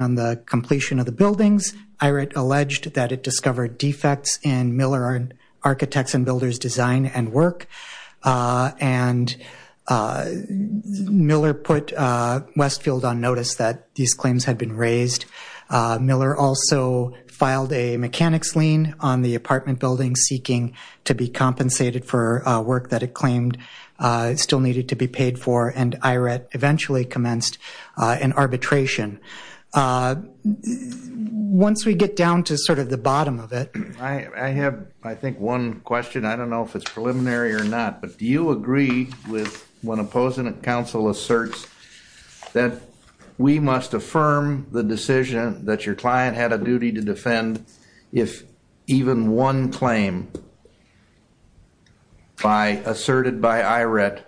On the completion of the buildings, IRET alleged that it discovered defects in Miller Architects & Builders' design and work, and Miller put Westfield on notice that these claims had been raised. Miller also filed a mechanics lien on the apartment building seeking to be compensated for work that it claimed still needed to be paid for, and IRET eventually commenced an arbitration. Once we get down to sort of the bottom of it, I have, I think, one question. I don't know if it's preliminary or not, but do you agree with when Opposent Counsel asserts that we must affirm the decision that your client had a duty to defend if even one claim asserted by IRET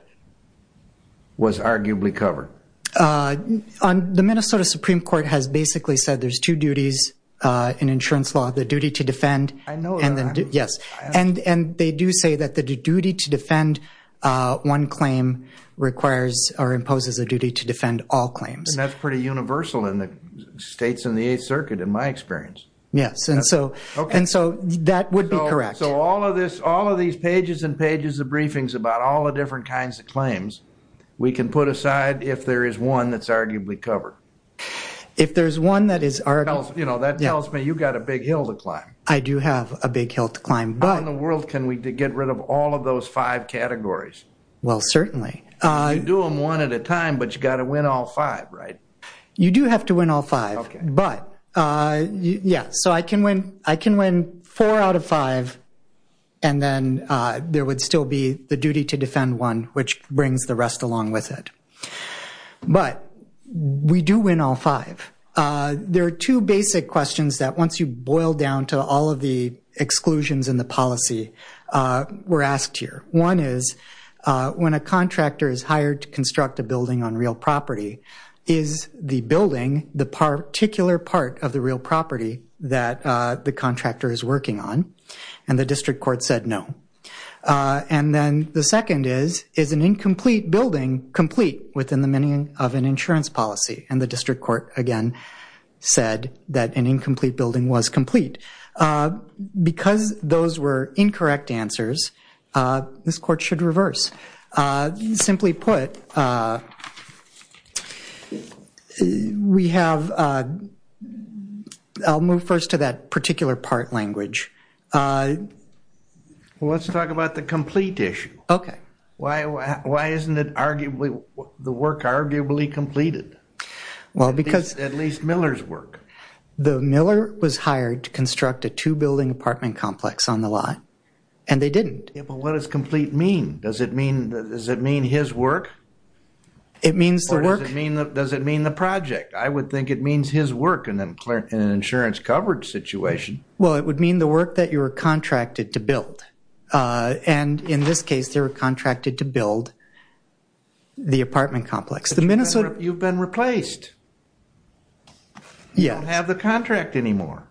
was arguably covered? The Minnesota Supreme Court has basically said there's two duties in insurance law, the duty to defend. I know that. Yes, and they do say that the duty to defend one claim requires or imposes a duty to defend all claims. And that's pretty universal in the states in the Eighth Circuit, in my experience. Yes, and so that would be correct. So all of this, all of these pages and pages of briefings about all the different kinds of claims, we can put aside if there is one that's arguably covered? If there's one that is arguably covered. You know, that tells me you've got a big hill to climb. I do have a big hill to climb, but... How in the world can we get rid of all of those five categories? Well, certainly. You do them one at a time, but you've got to win all five, right? You do have to win all five. Okay. But, yeah, so I can win four out of five and then there would still be the duty to defend one, which brings the rest along with it. But we do win all five. There are two basic questions that once you boil down to all of the exclusions in the policy, we're asked here. One is, when a contractor is hired to construct a building on real property, is the building the particular part of the real property that the contractor is working on? And the district court said no. And then the second is, is an incomplete building complete within the meaning of an insurance policy? And the district court, again, said that an incomplete building was complete. Because those were incorrect answers, this court should reverse. Simply put, we have, I'll move first to that particular part language. Well, let's talk about the complete issue. Okay. Why isn't it arguably, the work arguably completed? Well, because... At least Miller's work. Miller was hired to construct a two-building apartment complex on the lot, and they didn't. Yeah, but what does complete mean? Does it mean his work? It means the work... Or does it mean the project? I would think it means his work in an insurance coverage situation. Well, it would mean the work that you were contracted to build. And in this case, they were contracted to build the apartment complex. You've been replaced. Yeah. You don't have the contract anymore.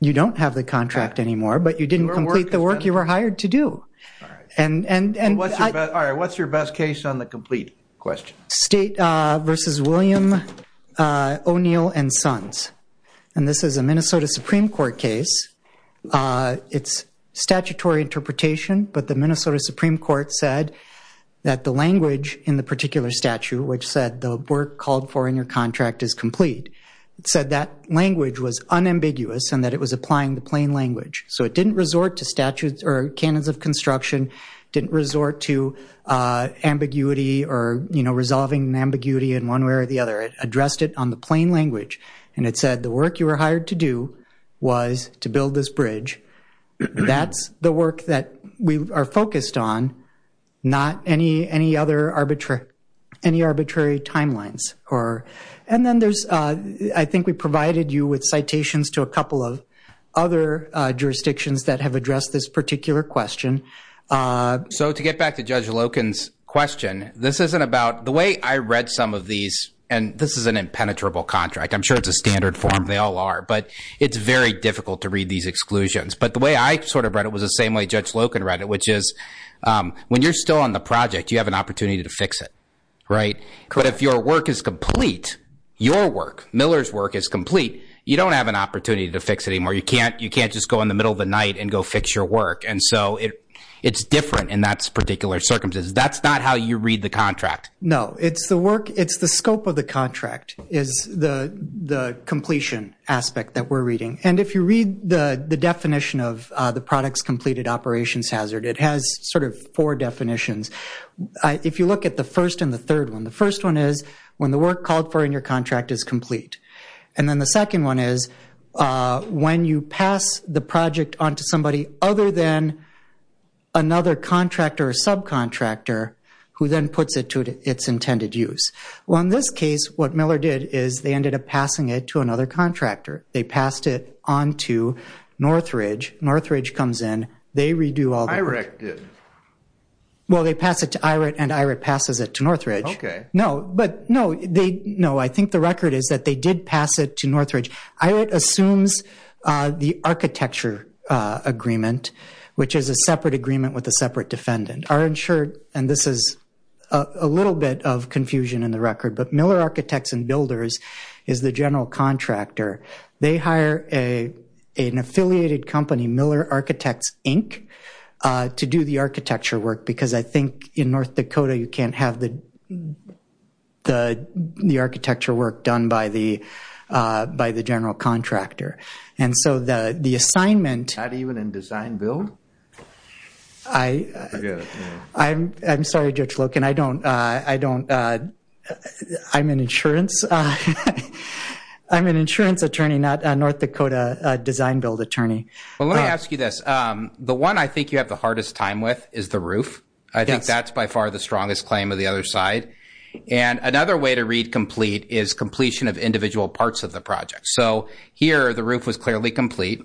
You don't have the contract anymore, but you didn't complete the work you were hired to do. All right. And what's your best case on the complete question? State versus William O'Neill and Sons. And this is a Minnesota Supreme Court case. It's statutory interpretation, but the Minnesota Supreme Court said that the language in the particular statute, which said the work called for in your contract is complete, it said that language was unambiguous and that it was applying the plain language. So it didn't resort to statutes or canons of construction, didn't resort to ambiguity or resolving ambiguity in one way or the other. It addressed it on the plain language. And it said the work you were hired to do was to build this bridge. That's the work that we are focused on, not any arbitrary timelines. And then I think we provided you with citations to a couple of other jurisdictions that have addressed this particular question. So to get back to Judge Loken's question, this isn't about the way I read some of these, and this is an impenetrable contract. I'm sure it's a standard form. They all are. But it's very difficult to read these exclusions. But the way I sort of read it was the same way Judge Loken read it, which is when you're still on the project, you have an opportunity to fix it, right? But if your work is complete, your work, Miller's work is complete, you don't have an opportunity to fix it anymore. You can't just go in the middle of the night and go fix your work. And so it's different in that particular circumstances. That's not how you read the contract. No. It's the scope of the contract is the completion aspect that we're reading. And if you read the definition of the products completed operations hazard, it has sort of four definitions. If you look at the first and the third one, the first one is when the work called for in your contract is complete. And then the second one is when you pass the project on to somebody other than another contractor or subcontractor who then puts it to its intended use. Well, in this case, what Miller did is they ended up passing it to another contractor. They passed it on to Northridge. Northridge comes in. They redo all that. IREC did. Well, they pass it to IREC and IREC passes it to Northridge. Okay. No, but no, they, no, I think the record is that they did pass it to Northridge. IREC assumes the architecture agreement, which is a separate agreement with a separate defendant. Our insured, and this is a little bit of confusion in the record, but Miller Architects and Builders is the general contractor. They hire an affiliated company, Miller Architects, Inc. to do the architecture work because I think in North Dakota, you can't have the architecture work done by the general contractor. And so the assignment- Not even in design build? I'm sorry, Judge Loken, I don't, I don't, I'm an insurance, I'm an insurance attorney, not a North Dakota design build attorney. Well, let me ask you this. The one I think you have the hardest time with is the roof. I think that's by far the strongest claim of the other side. And another way to read complete is completion of individual parts of the project. So here, the roof was clearly complete.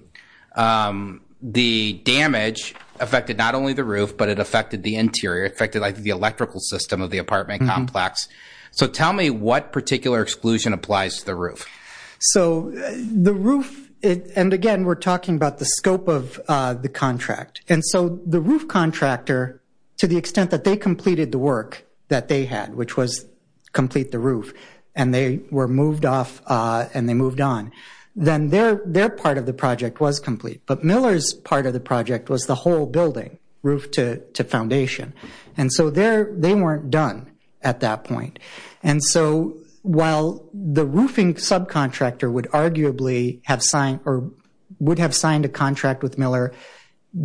The damage affected not only the roof, but it affected the interior, affected like the electrical system of the apartment complex. So tell me what particular exclusion applies to the roof. So the roof, and again, we're talking about the scope of the contract. And so the roof contractor, to the extent that they completed the work that they had, which was complete the roof, and they were moved off and they moved on, then their part of the project was complete. But Miller's part of the project was the whole building, roof to foundation. And so they weren't done at that point. And so while the roofing subcontractor would arguably have signed, or would have signed a contract with Miller,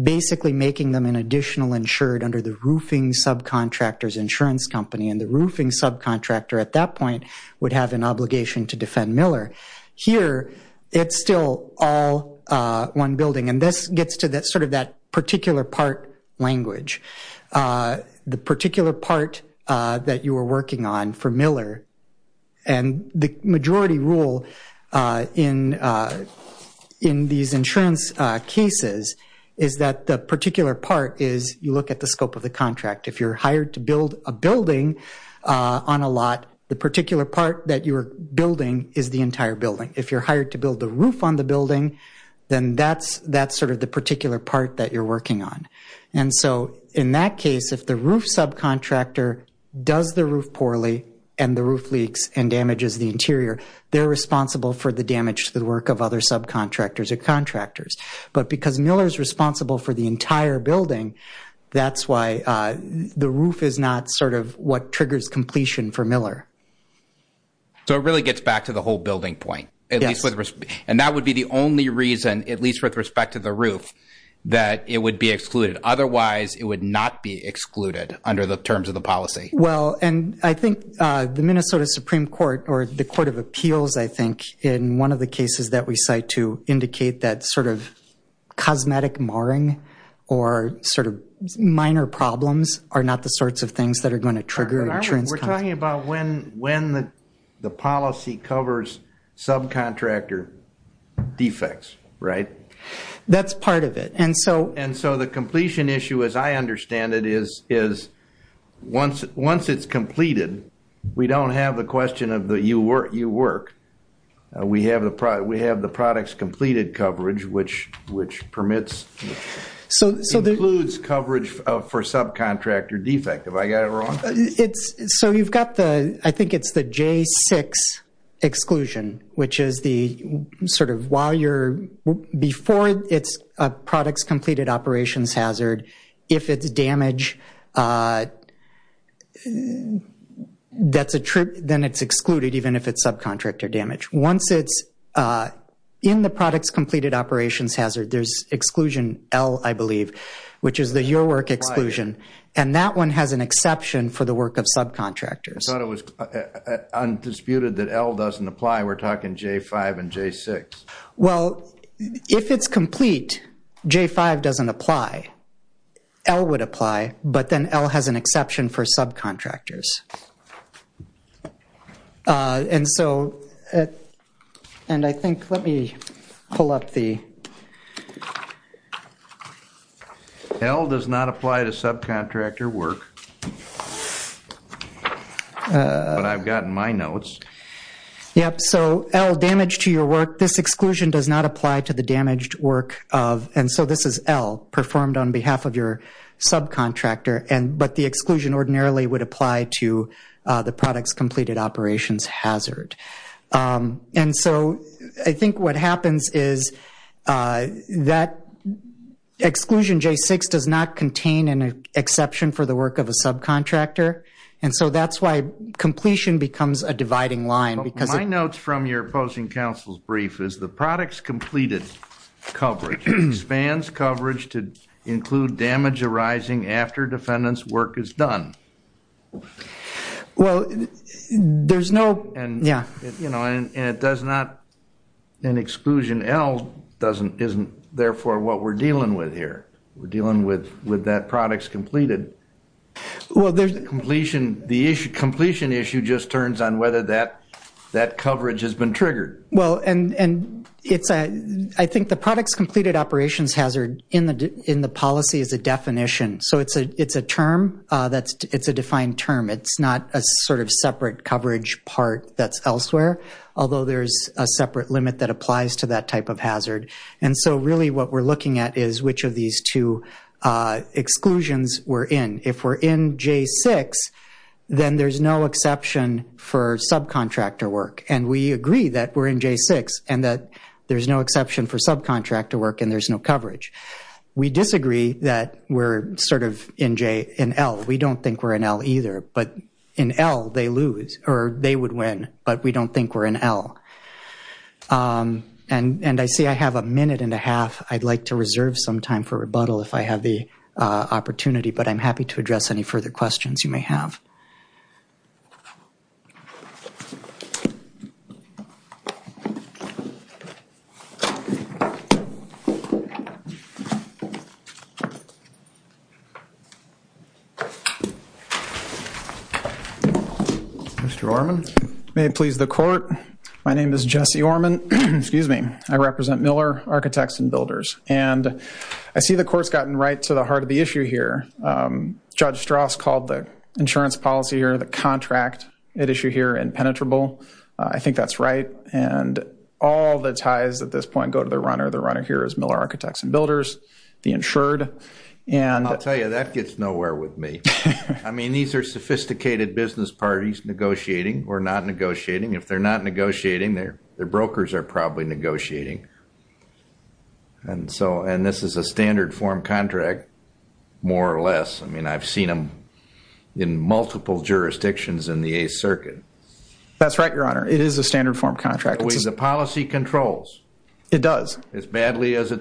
basically making them an additional insured under the roofing subcontractor's insurance company, and the roofing subcontractor at that point would have an obligation to defend Miller. Here, it's still all one building. And this gets to sort of that particular part language. The particular part that you were working on for Miller, and the majority rule in these insurance cases is that the particular part is you look at the scope of the contract. If you're hired to build a building on a lot of land, the particular part that you're building is the entire building. If you're hired to build the roof on the building, then that's sort of the particular part that you're working on. And so in that case, if the roof subcontractor does the roof poorly and the roof leaks and damages the interior, they're responsible for the damage to the work of other subcontractors or contractors. But because Miller's responsible for the entire building, that's why the roof is not sort of what triggers completion for Miller. So it really gets back to the whole building point. And that would be the only reason, at least with respect to the roof, that it would be excluded. Otherwise, it would not be excluded under the terms of the policy. Well, and I think the Minnesota Supreme Court or the Court of Appeals, I think, in one of the cases that we cite to indicate that sort of cosmetic marring or sort of minor problems are not the sorts of things that are going to trigger an insurance contract. We're talking about when the policy covers subcontractor defects, right? That's part of it. And so... And so the completion issue, as I understand it, is once it's completed, we don't have the question of you work. We have the products completed coverage, which permits, includes coverage for subcontractor defect. Have I got it wrong? So you've got the, I think it's the J6 exclusion, which is the sort of while you're, before it's a products completed operations hazard, if it's damage, then it's excluded even if it's subcontractor damage. Once it's in the products completed operations hazard, there's exclusion L, I believe, which is the your work exclusion. And that one has an exception for the work of subcontractors. I thought it was undisputed that L doesn't apply. We're talking J5 and J6. Well, if it's complete, J5 doesn't apply. L would apply, but then L has an exception for subcontractors. And so, and I think, let me pull up the... L does not apply to subcontractor work. But I've gotten my notes. Yep. So L, damage to your work. This exclusion does not apply to the damaged work of, and so this is L, performed on behalf of your subcontractor. But the exclusion ordinarily would apply to the products completed operations hazard. And so I think what happens is that exclusion J6 does not contain an exception for the work of a subcontractor. And so that's why completion becomes a dividing line because... My notes from your opposing counsel's brief is the products completed coverage expands coverage to include damage arising after defendant's work is done. Well, there's no... And it does not, an exclusion L isn't therefore what we're dealing with here. We're dealing with that products completed. Well, there's... Completion, the issue, completion issue just turns on whether that coverage has been triggered. Well, and it's a, I think the products completed operations hazard in the policy is a definition. So it's a term that's, it's a defined term. It's not a sort of separate coverage part that's elsewhere, although there's a separate limit that applies to that type of hazard. And so really what we're looking at is which of these two exclusions we're in. If we're in J6, then there's no exception for subcontractor work. And we agree that we're in J6 and that there's no exception for subcontractor work and there's no coverage. We disagree that we're sort of in J, in L. We don't think we're in L either, but in L they lose or they would win, but we don't think we're in L. And I see I have a minute and a half. I'd like to reserve some time for rebuttal if I have the opportunity, but I'm happy to address any further questions you may have. Mr. Orman. May it please the court. My name is Jesse Orman. I represent Miller Architects and Builders. And I see the court's gotten right to the heart of the issue here. Judge Strauss called the insurance policy or the contract at issue here impenetrable. I think that's right. And all the ties at this point go to the runner. The runner here is Miller Architects and Builders, the insured. I'll tell you, that gets nowhere with me. I mean, these are sophisticated business parties negotiating or not negotiating. If they're not negotiating, their brokers are probably negotiating. And this is a standard form contract, more or less. I mean, I've seen them in multiple jurisdictions in the Eighth Circuit. That's right, Your Honor. It is a standard form contract. It's the policy controls. It does. As badly as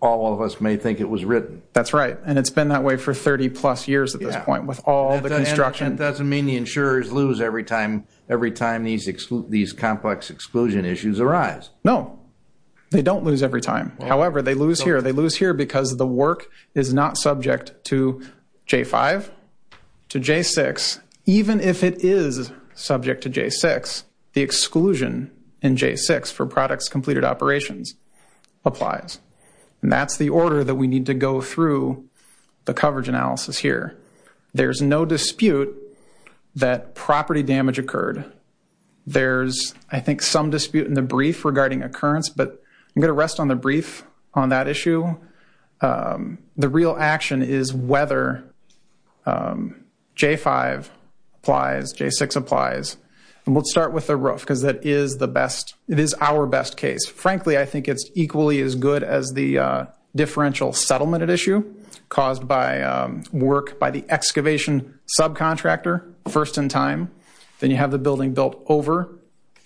all of us may think it was written. That's right. And it's been that way for 30-plus years at this point with all the construction. That doesn't mean the insurers lose every time these complex exclusion issues arise. No. They don't lose every time. However, they lose here. They lose here because the work is not subject to J-5, to J-6. Even if it is subject to J-6, the exclusion in J-6 for products completed operations applies. And that's the order that we need to go through the coverage analysis here. There's no dispute that property damage occurred. There's, I think, some dispute in the brief regarding occurrence. But I'm going to rest on the brief on that issue. The real action is whether J-5 applies, J-6 applies. And we'll start with the roof because that is the best. It is our best case. Frankly, I think it's equally as good as the differential settlement issue caused by work by the excavation subcontractor first in time. Then you have the building built over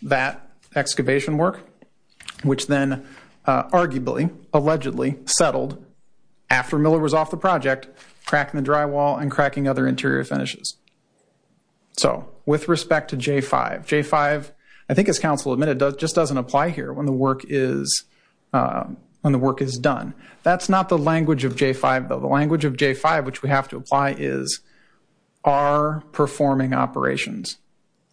that excavation work, which then arguably, allegedly settled after Miller was off the project, cracking the drywall and cracking other interior finishes. So with respect to J-5, J-5, I think as counsel admitted, just doesn't apply here when the work is done. That's not the language of J-5, though. The language of J-5, which we have to apply, is our performing operations.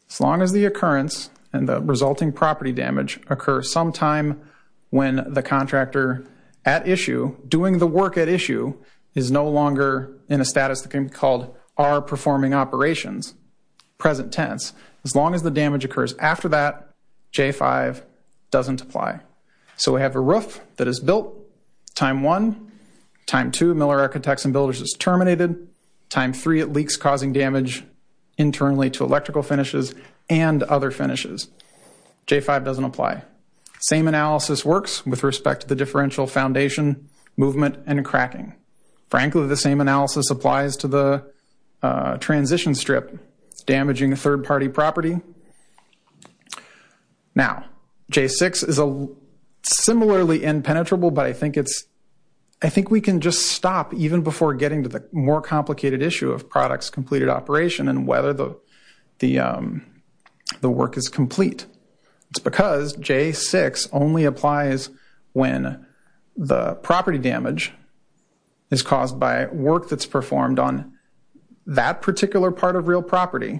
As long as the occurrence and the resulting property damage occur sometime when the contractor at issue, is no longer in a status that can be called our performing operations, present tense, as long as the damage occurs after that, J-5 doesn't apply. So we have a roof that is built, time one. Time two, Miller Architects and Builders is terminated. Time three, it leaks causing damage internally to electrical finishes and other finishes. J-5 doesn't apply. Same analysis works with respect to the differential foundation, movement, and cracking. Frankly, the same analysis applies to the transition strip. It's damaging a third-party property. Now, J-6 is similarly impenetrable, but I think we can just stop even before getting to the more complicated issue of product's completed operation and whether the work is complete. It's because J-6 only applies when the property damage is caused by work that's performed on that particular part of real property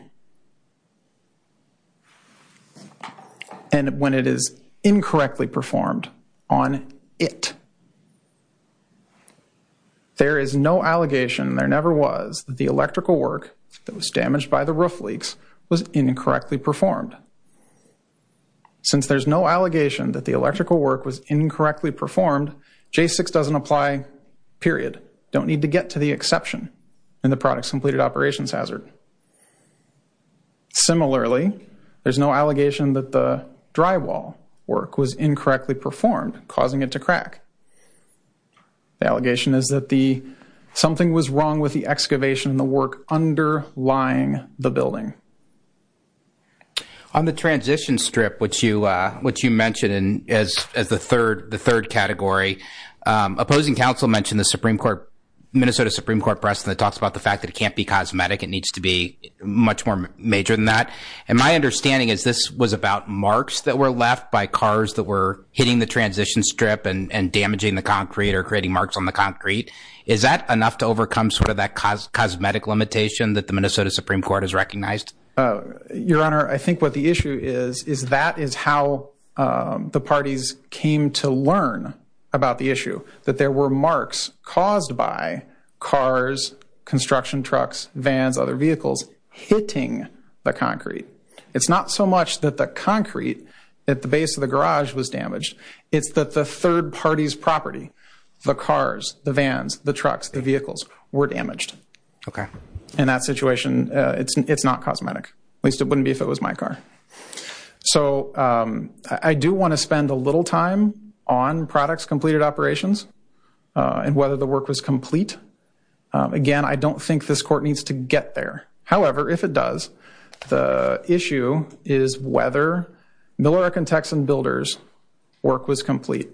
and when it is incorrectly performed on it. There is no allegation, and there never was, that the electrical work that was damaged by the roof leaks was incorrectly performed. Since there's no allegation that the electrical work was incorrectly performed, J-6 doesn't apply, period. Don't need to get to the exception in the product's completed operations hazard. Similarly, there's no allegation that the drywall work was incorrectly performed, causing it to crack. The allegation is that something was wrong with the excavation and the work underlying the building. On the transition strip, which you mentioned as the third category, opposing counsel mentioned the Minnesota Supreme Court precedent that talks about the fact that it can't be cosmetic. It needs to be much more major than that. My understanding is this was about marks that were left by cars that were hitting the transition strip and damaging the concrete or creating marks on the concrete. Is that enough to overcome that cosmetic limitation that the Minnesota Supreme Court has recognized? Your Honor, I think what the issue is is that is how the parties came to learn about the issue, that there were marks caused by cars, construction trucks, vans, other vehicles hitting the concrete. It's not so much that the concrete at the base of the garage was damaged. It's that the third party's property, the cars, the vans, the trucks, the vehicles, were damaged. Okay. In that situation, it's not cosmetic. At least it wouldn't be if it was my car. So I do want to spend a little time on products completed operations and whether the work was complete. Again, I don't think this court needs to get there. However, if it does, the issue is whether Millerec and Texan Builders' work was complete.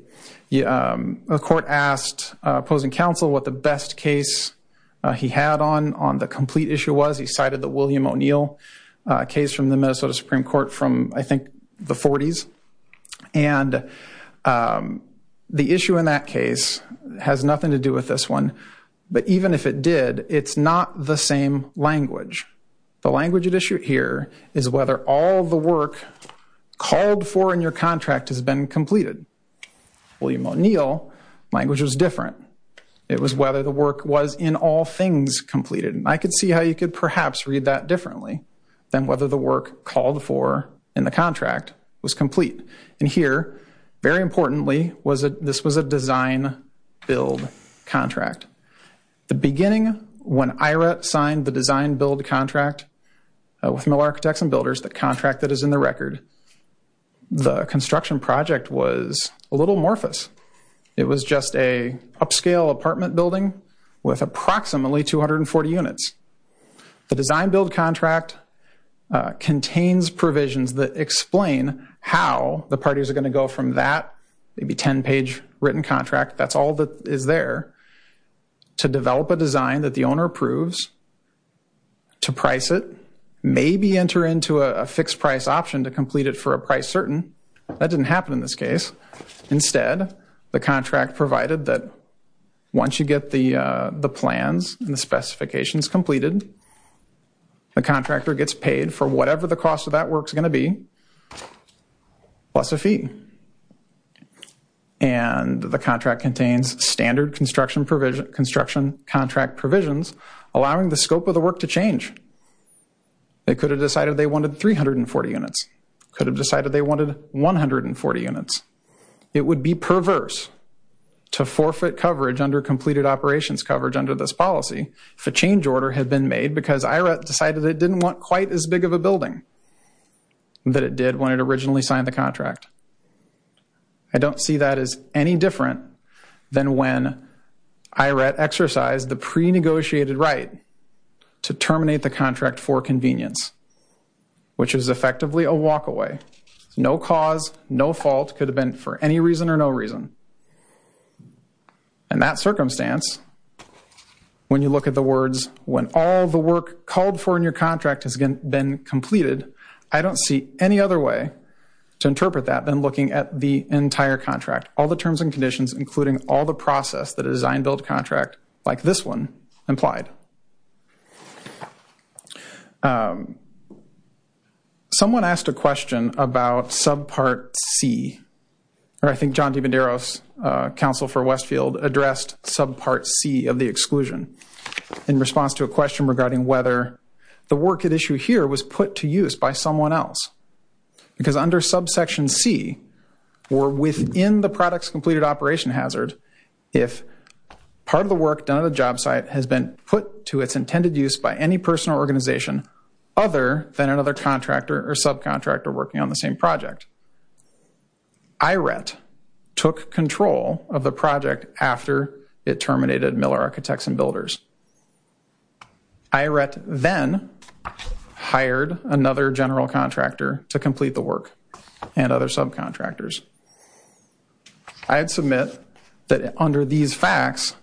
The court asked opposing counsel what the best case he had on the complete issue was. He cited the William O'Neill case from the Minnesota Supreme Court from, I think, the 40s. And the issue in that case has nothing to do with this one. But even if it did, it's not the same language. The language at issue here is whether all the work called for in your contract has been completed. William O'Neill, language was different. It was whether the work was, in all things, completed. And I could see how you could perhaps read that differently than whether the work called for in the contract was complete. And here, very importantly, this was a design-build contract. The beginning, when IRA signed the design-build contract with Millerec and Texan Builders, the contract that is in the record, the construction project was a little morphous. It was just an upscale apartment building with approximately 240 units. The design-build contract contains provisions that explain how the parties are going to go from that, maybe 10-page written contract, that's all that is there, to develop a design that the owner approves, to price it, maybe enter into a fixed price option to complete it for a price certain. That didn't happen in this case. Instead, the contract provided that once you get the plans and the specifications completed, the contractor gets paid for whatever the cost of that work is going to be, plus a fee. And the contract contains standard construction contract provisions allowing the scope of the work to change. They could have decided they wanted 340 units. Could have decided they wanted 140 units. It would be perverse to forfeit coverage under completed operations coverage under this policy if a change order had been made because IRA decided it didn't want quite as big of a building that it did when it originally signed the contract. I don't see that as any different than when IRA exercised the pre-negotiated right to terminate the contract for convenience, which is effectively a walk-away. No cause, no fault, could have been for any reason or no reason. In that circumstance, when you look at the words, when all the work called for in your contract has been completed, I don't see any other way to interpret that than looking at the entire contract, all the terms and conditions including all the process that a design-build contract like this one implied. Someone asked a question about subpart C, or I think John DiMenderos, Counsel for Westfield, addressed subpart C of the exclusion in response to a question regarding whether the work at issue here was put to use by someone else. Because under subsection C, or within the products completed operation hazard, if part of the work done at a job site has been put to its intended use by any person or organization other than another contractor or subcontractor working on the same project, IRET took control of the project after it terminated Miller Architects and Builders. IRET then hired another general contractor to complete the work and other subcontractors. I'd submit that under these facts,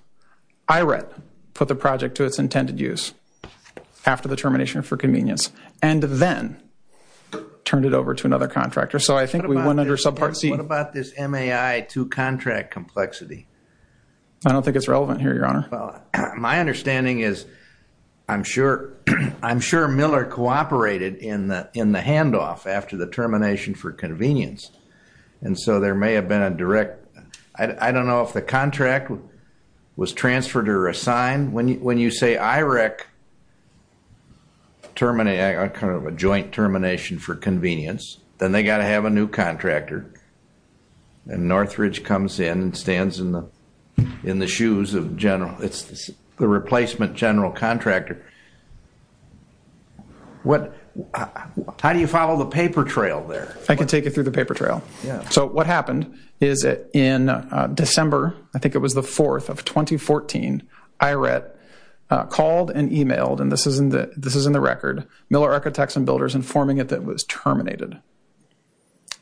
IRET put the project to its intended use after the termination for convenience and then turned it over to another contractor. So I think we went under subpart C. What about this MAI to contract complexity? I don't think it's relevant here, Your Honor. Well, my understanding is I'm sure Miller cooperated in the handoff after the termination for convenience. And so there may have been a direct, I don't know if the contract was transferred or assigned. When you say IRET terminated, kind of a joint termination for convenience, then they've got to have a new contractor. And Northridge comes in and stands in the shoes of the replacement general contractor. How do you follow the paper trail there? I can take you through the paper trail. So what happened is that in December, I think it was the 4th of 2014, IRET called and emailed, and this is in the record, Miller Architects and Builders informing it that it was terminated.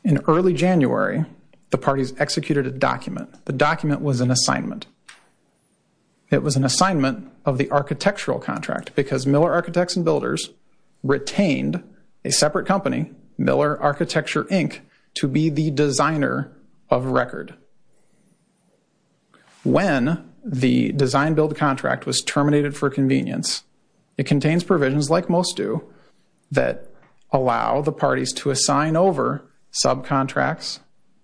In early January, the parties executed a document. The document was an assignment. It was an assignment of the architectural contract because Miller Architects and Builders retained a separate company, Miller Architecture, Inc., to be the designer of record. When the design-build contract was terminated for convenience, it contains provisions like most do that allow the parties to assign over subcontracts,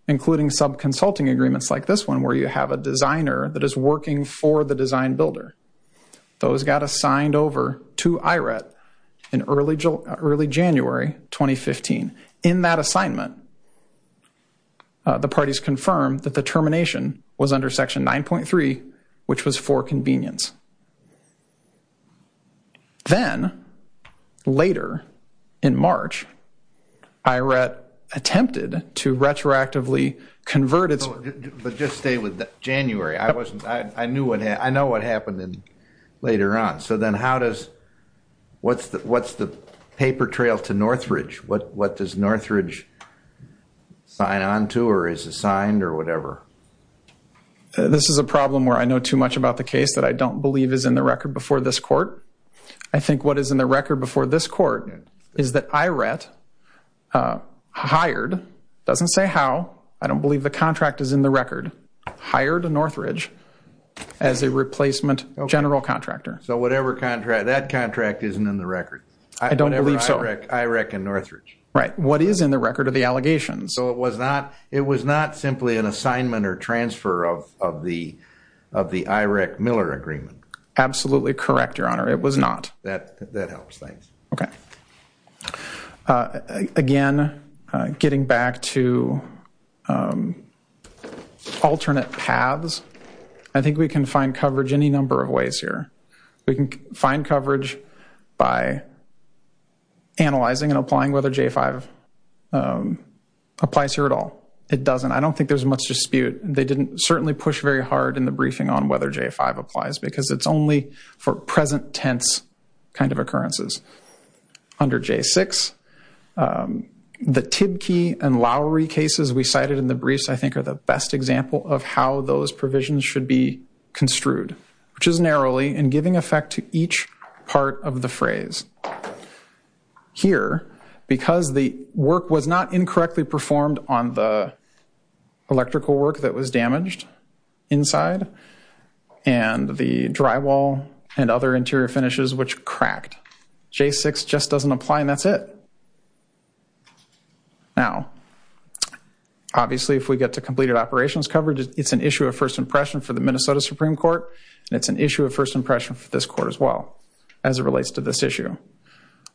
including subconsulting agreements like this one where you have a designer that is working for the design builder. Those got assigned over to IRET in early January 2015. In that assignment, the parties confirmed that the termination was under Section 9.3, which was for convenience. Then, later in March, IRET attempted to retroactively convert its... But just stay with January. I know what happened later on. So then what's the paper trail to Northridge? What does Northridge sign on to or is assigned or whatever? This is a problem where I know too much about the case that I don't believe is in the record before this court. I think what is in the record before this court is that IRET hired, doesn't say how. I don't believe the contract is in the record, hired Northridge as a replacement general contractor. So that contract isn't in the record? I don't believe so. IRET and Northridge? Right. What is in the record are the allegations. So it was not simply an assignment or transfer of the IRET-Miller agreement? Absolutely correct, Your Honor. It was not. That helps. Thanks. Okay. Again, getting back to alternate paths, I think we can find coverage any number of ways here. We can find coverage by analyzing and applying whether J-5 applies here at all. It doesn't. I don't think there's much dispute. They didn't certainly push very hard in the briefing on whether J-5 applies because it's only for present tense kind of occurrences. Under J-6, the Tibke and Lowery cases we cited in the briefs, I think, are the best example of how those provisions should be construed, which is narrowly in giving effect to each part of the phrase. Here, because the work was not incorrectly performed on the electrical work that was damaged inside and the drywall and other interior finishes, which cracked. J-6 just doesn't apply, and that's it. Now, obviously, if we get to completed operations coverage, it's an issue of first impression for the Minnesota Supreme Court, and it's an issue of first impression for this Court as well as it relates to this issue.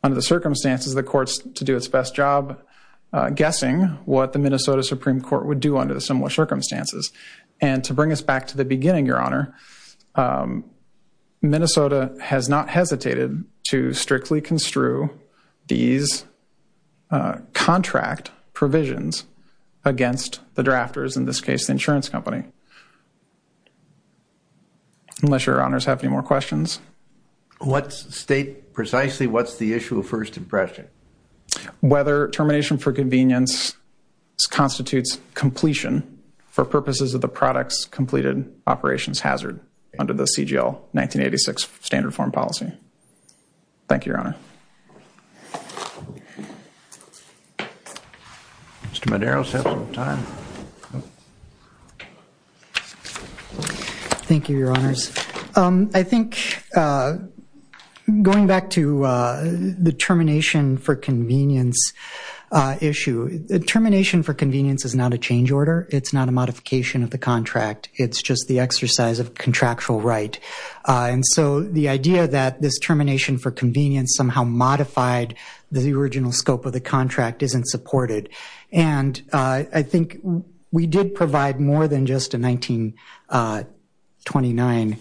Under the circumstances, the Court's to do its best job guessing what the Minnesota Supreme Court would do under the similar circumstances. And to bring us back to the beginning, Your Honor, Minnesota has not hesitated to strictly construe these contract provisions against the drafters, in this case the insurance company, unless Your Honors have any more questions. Let's state precisely what's the issue of first impression. Whether termination for convenience constitutes completion for purposes of the product's completed operations hazard under the CGL 1986 standard form policy. Thank you, Your Honor. Mr. Madero, you still have some time. Thank you, Your Honors. I think going back to the termination for convenience issue, termination for convenience is not a change order. It's not a modification of the contract. It's just the exercise of contractual right. And so the idea that this termination for convenience somehow modified the original scope of the contract isn't supported. And I think we did provide more than just a 1929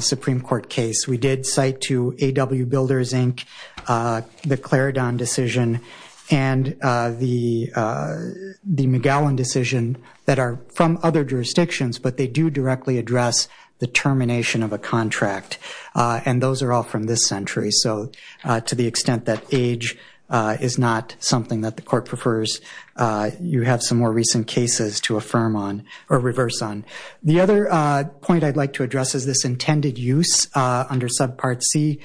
Supreme Court case. We did cite to AW Builders, Inc., the Clare Don decision and the McGowan decision that are from other jurisdictions, but they do directly address the termination of a contract. And those are all from this century. So to the extent that age is not something that the court prefers, you have some more recent cases to affirm on or reverse on. The other point I'd like to address is this intended use under subpart C.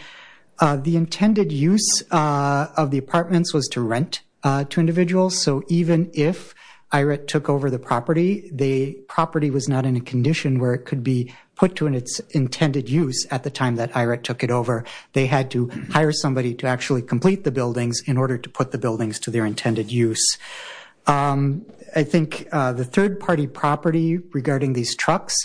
The intended use of the apartments was to rent to individuals. So even if IRET took over the property, the property was not in a condition where it could be put to its intended use at the time that IRET took it over. They had to hire somebody to actually complete the buildings in order to put the buildings to their intended use. I think the third-party property regarding these trucks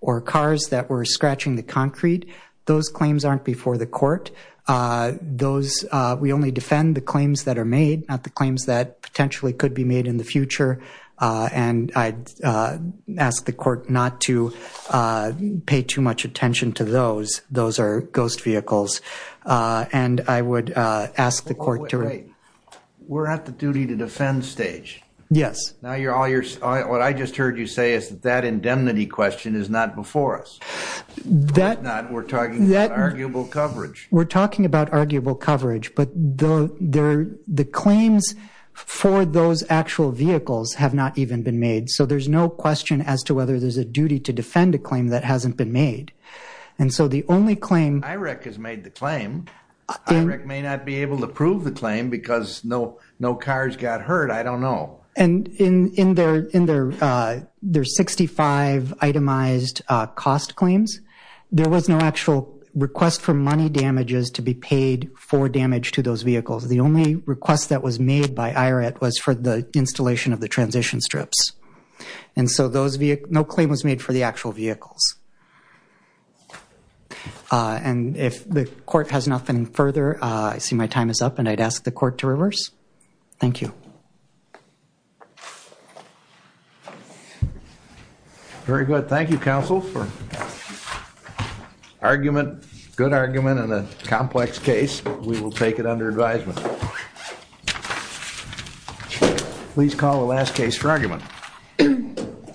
or cars that were scratching the concrete, those claims aren't before the court. We only defend the claims that are made, not the claims that potentially could be made in the future. And I'd ask the court not to pay too much attention to those. Those are ghost vehicles. And I would ask the court to rate. We're at the duty to defend stage. Yes. What I just heard you say is that that indemnity question is not before us. It's not. We're talking about arguable coverage. We're talking about arguable coverage. But the claims for those actual vehicles have not even been made. So there's no question as to whether there's a duty to defend a claim that hasn't been made. And so the only claim — IREC has made the claim. IREC may not be able to prove the claim because no cars got hurt. I don't know. And in their 65 itemized cost claims, there was no actual request for money damages to be paid for damage to those vehicles. The only request that was made by IRET was for the installation of the transition strips. And so no claim was made for the actual vehicles. And if the court has nothing further, I see my time is up, and I'd ask the court to reverse. Thank you. Very good. Thank you, counsel, for argument, good argument in a complex case. We will take it under advisement. Please call the last case for argument.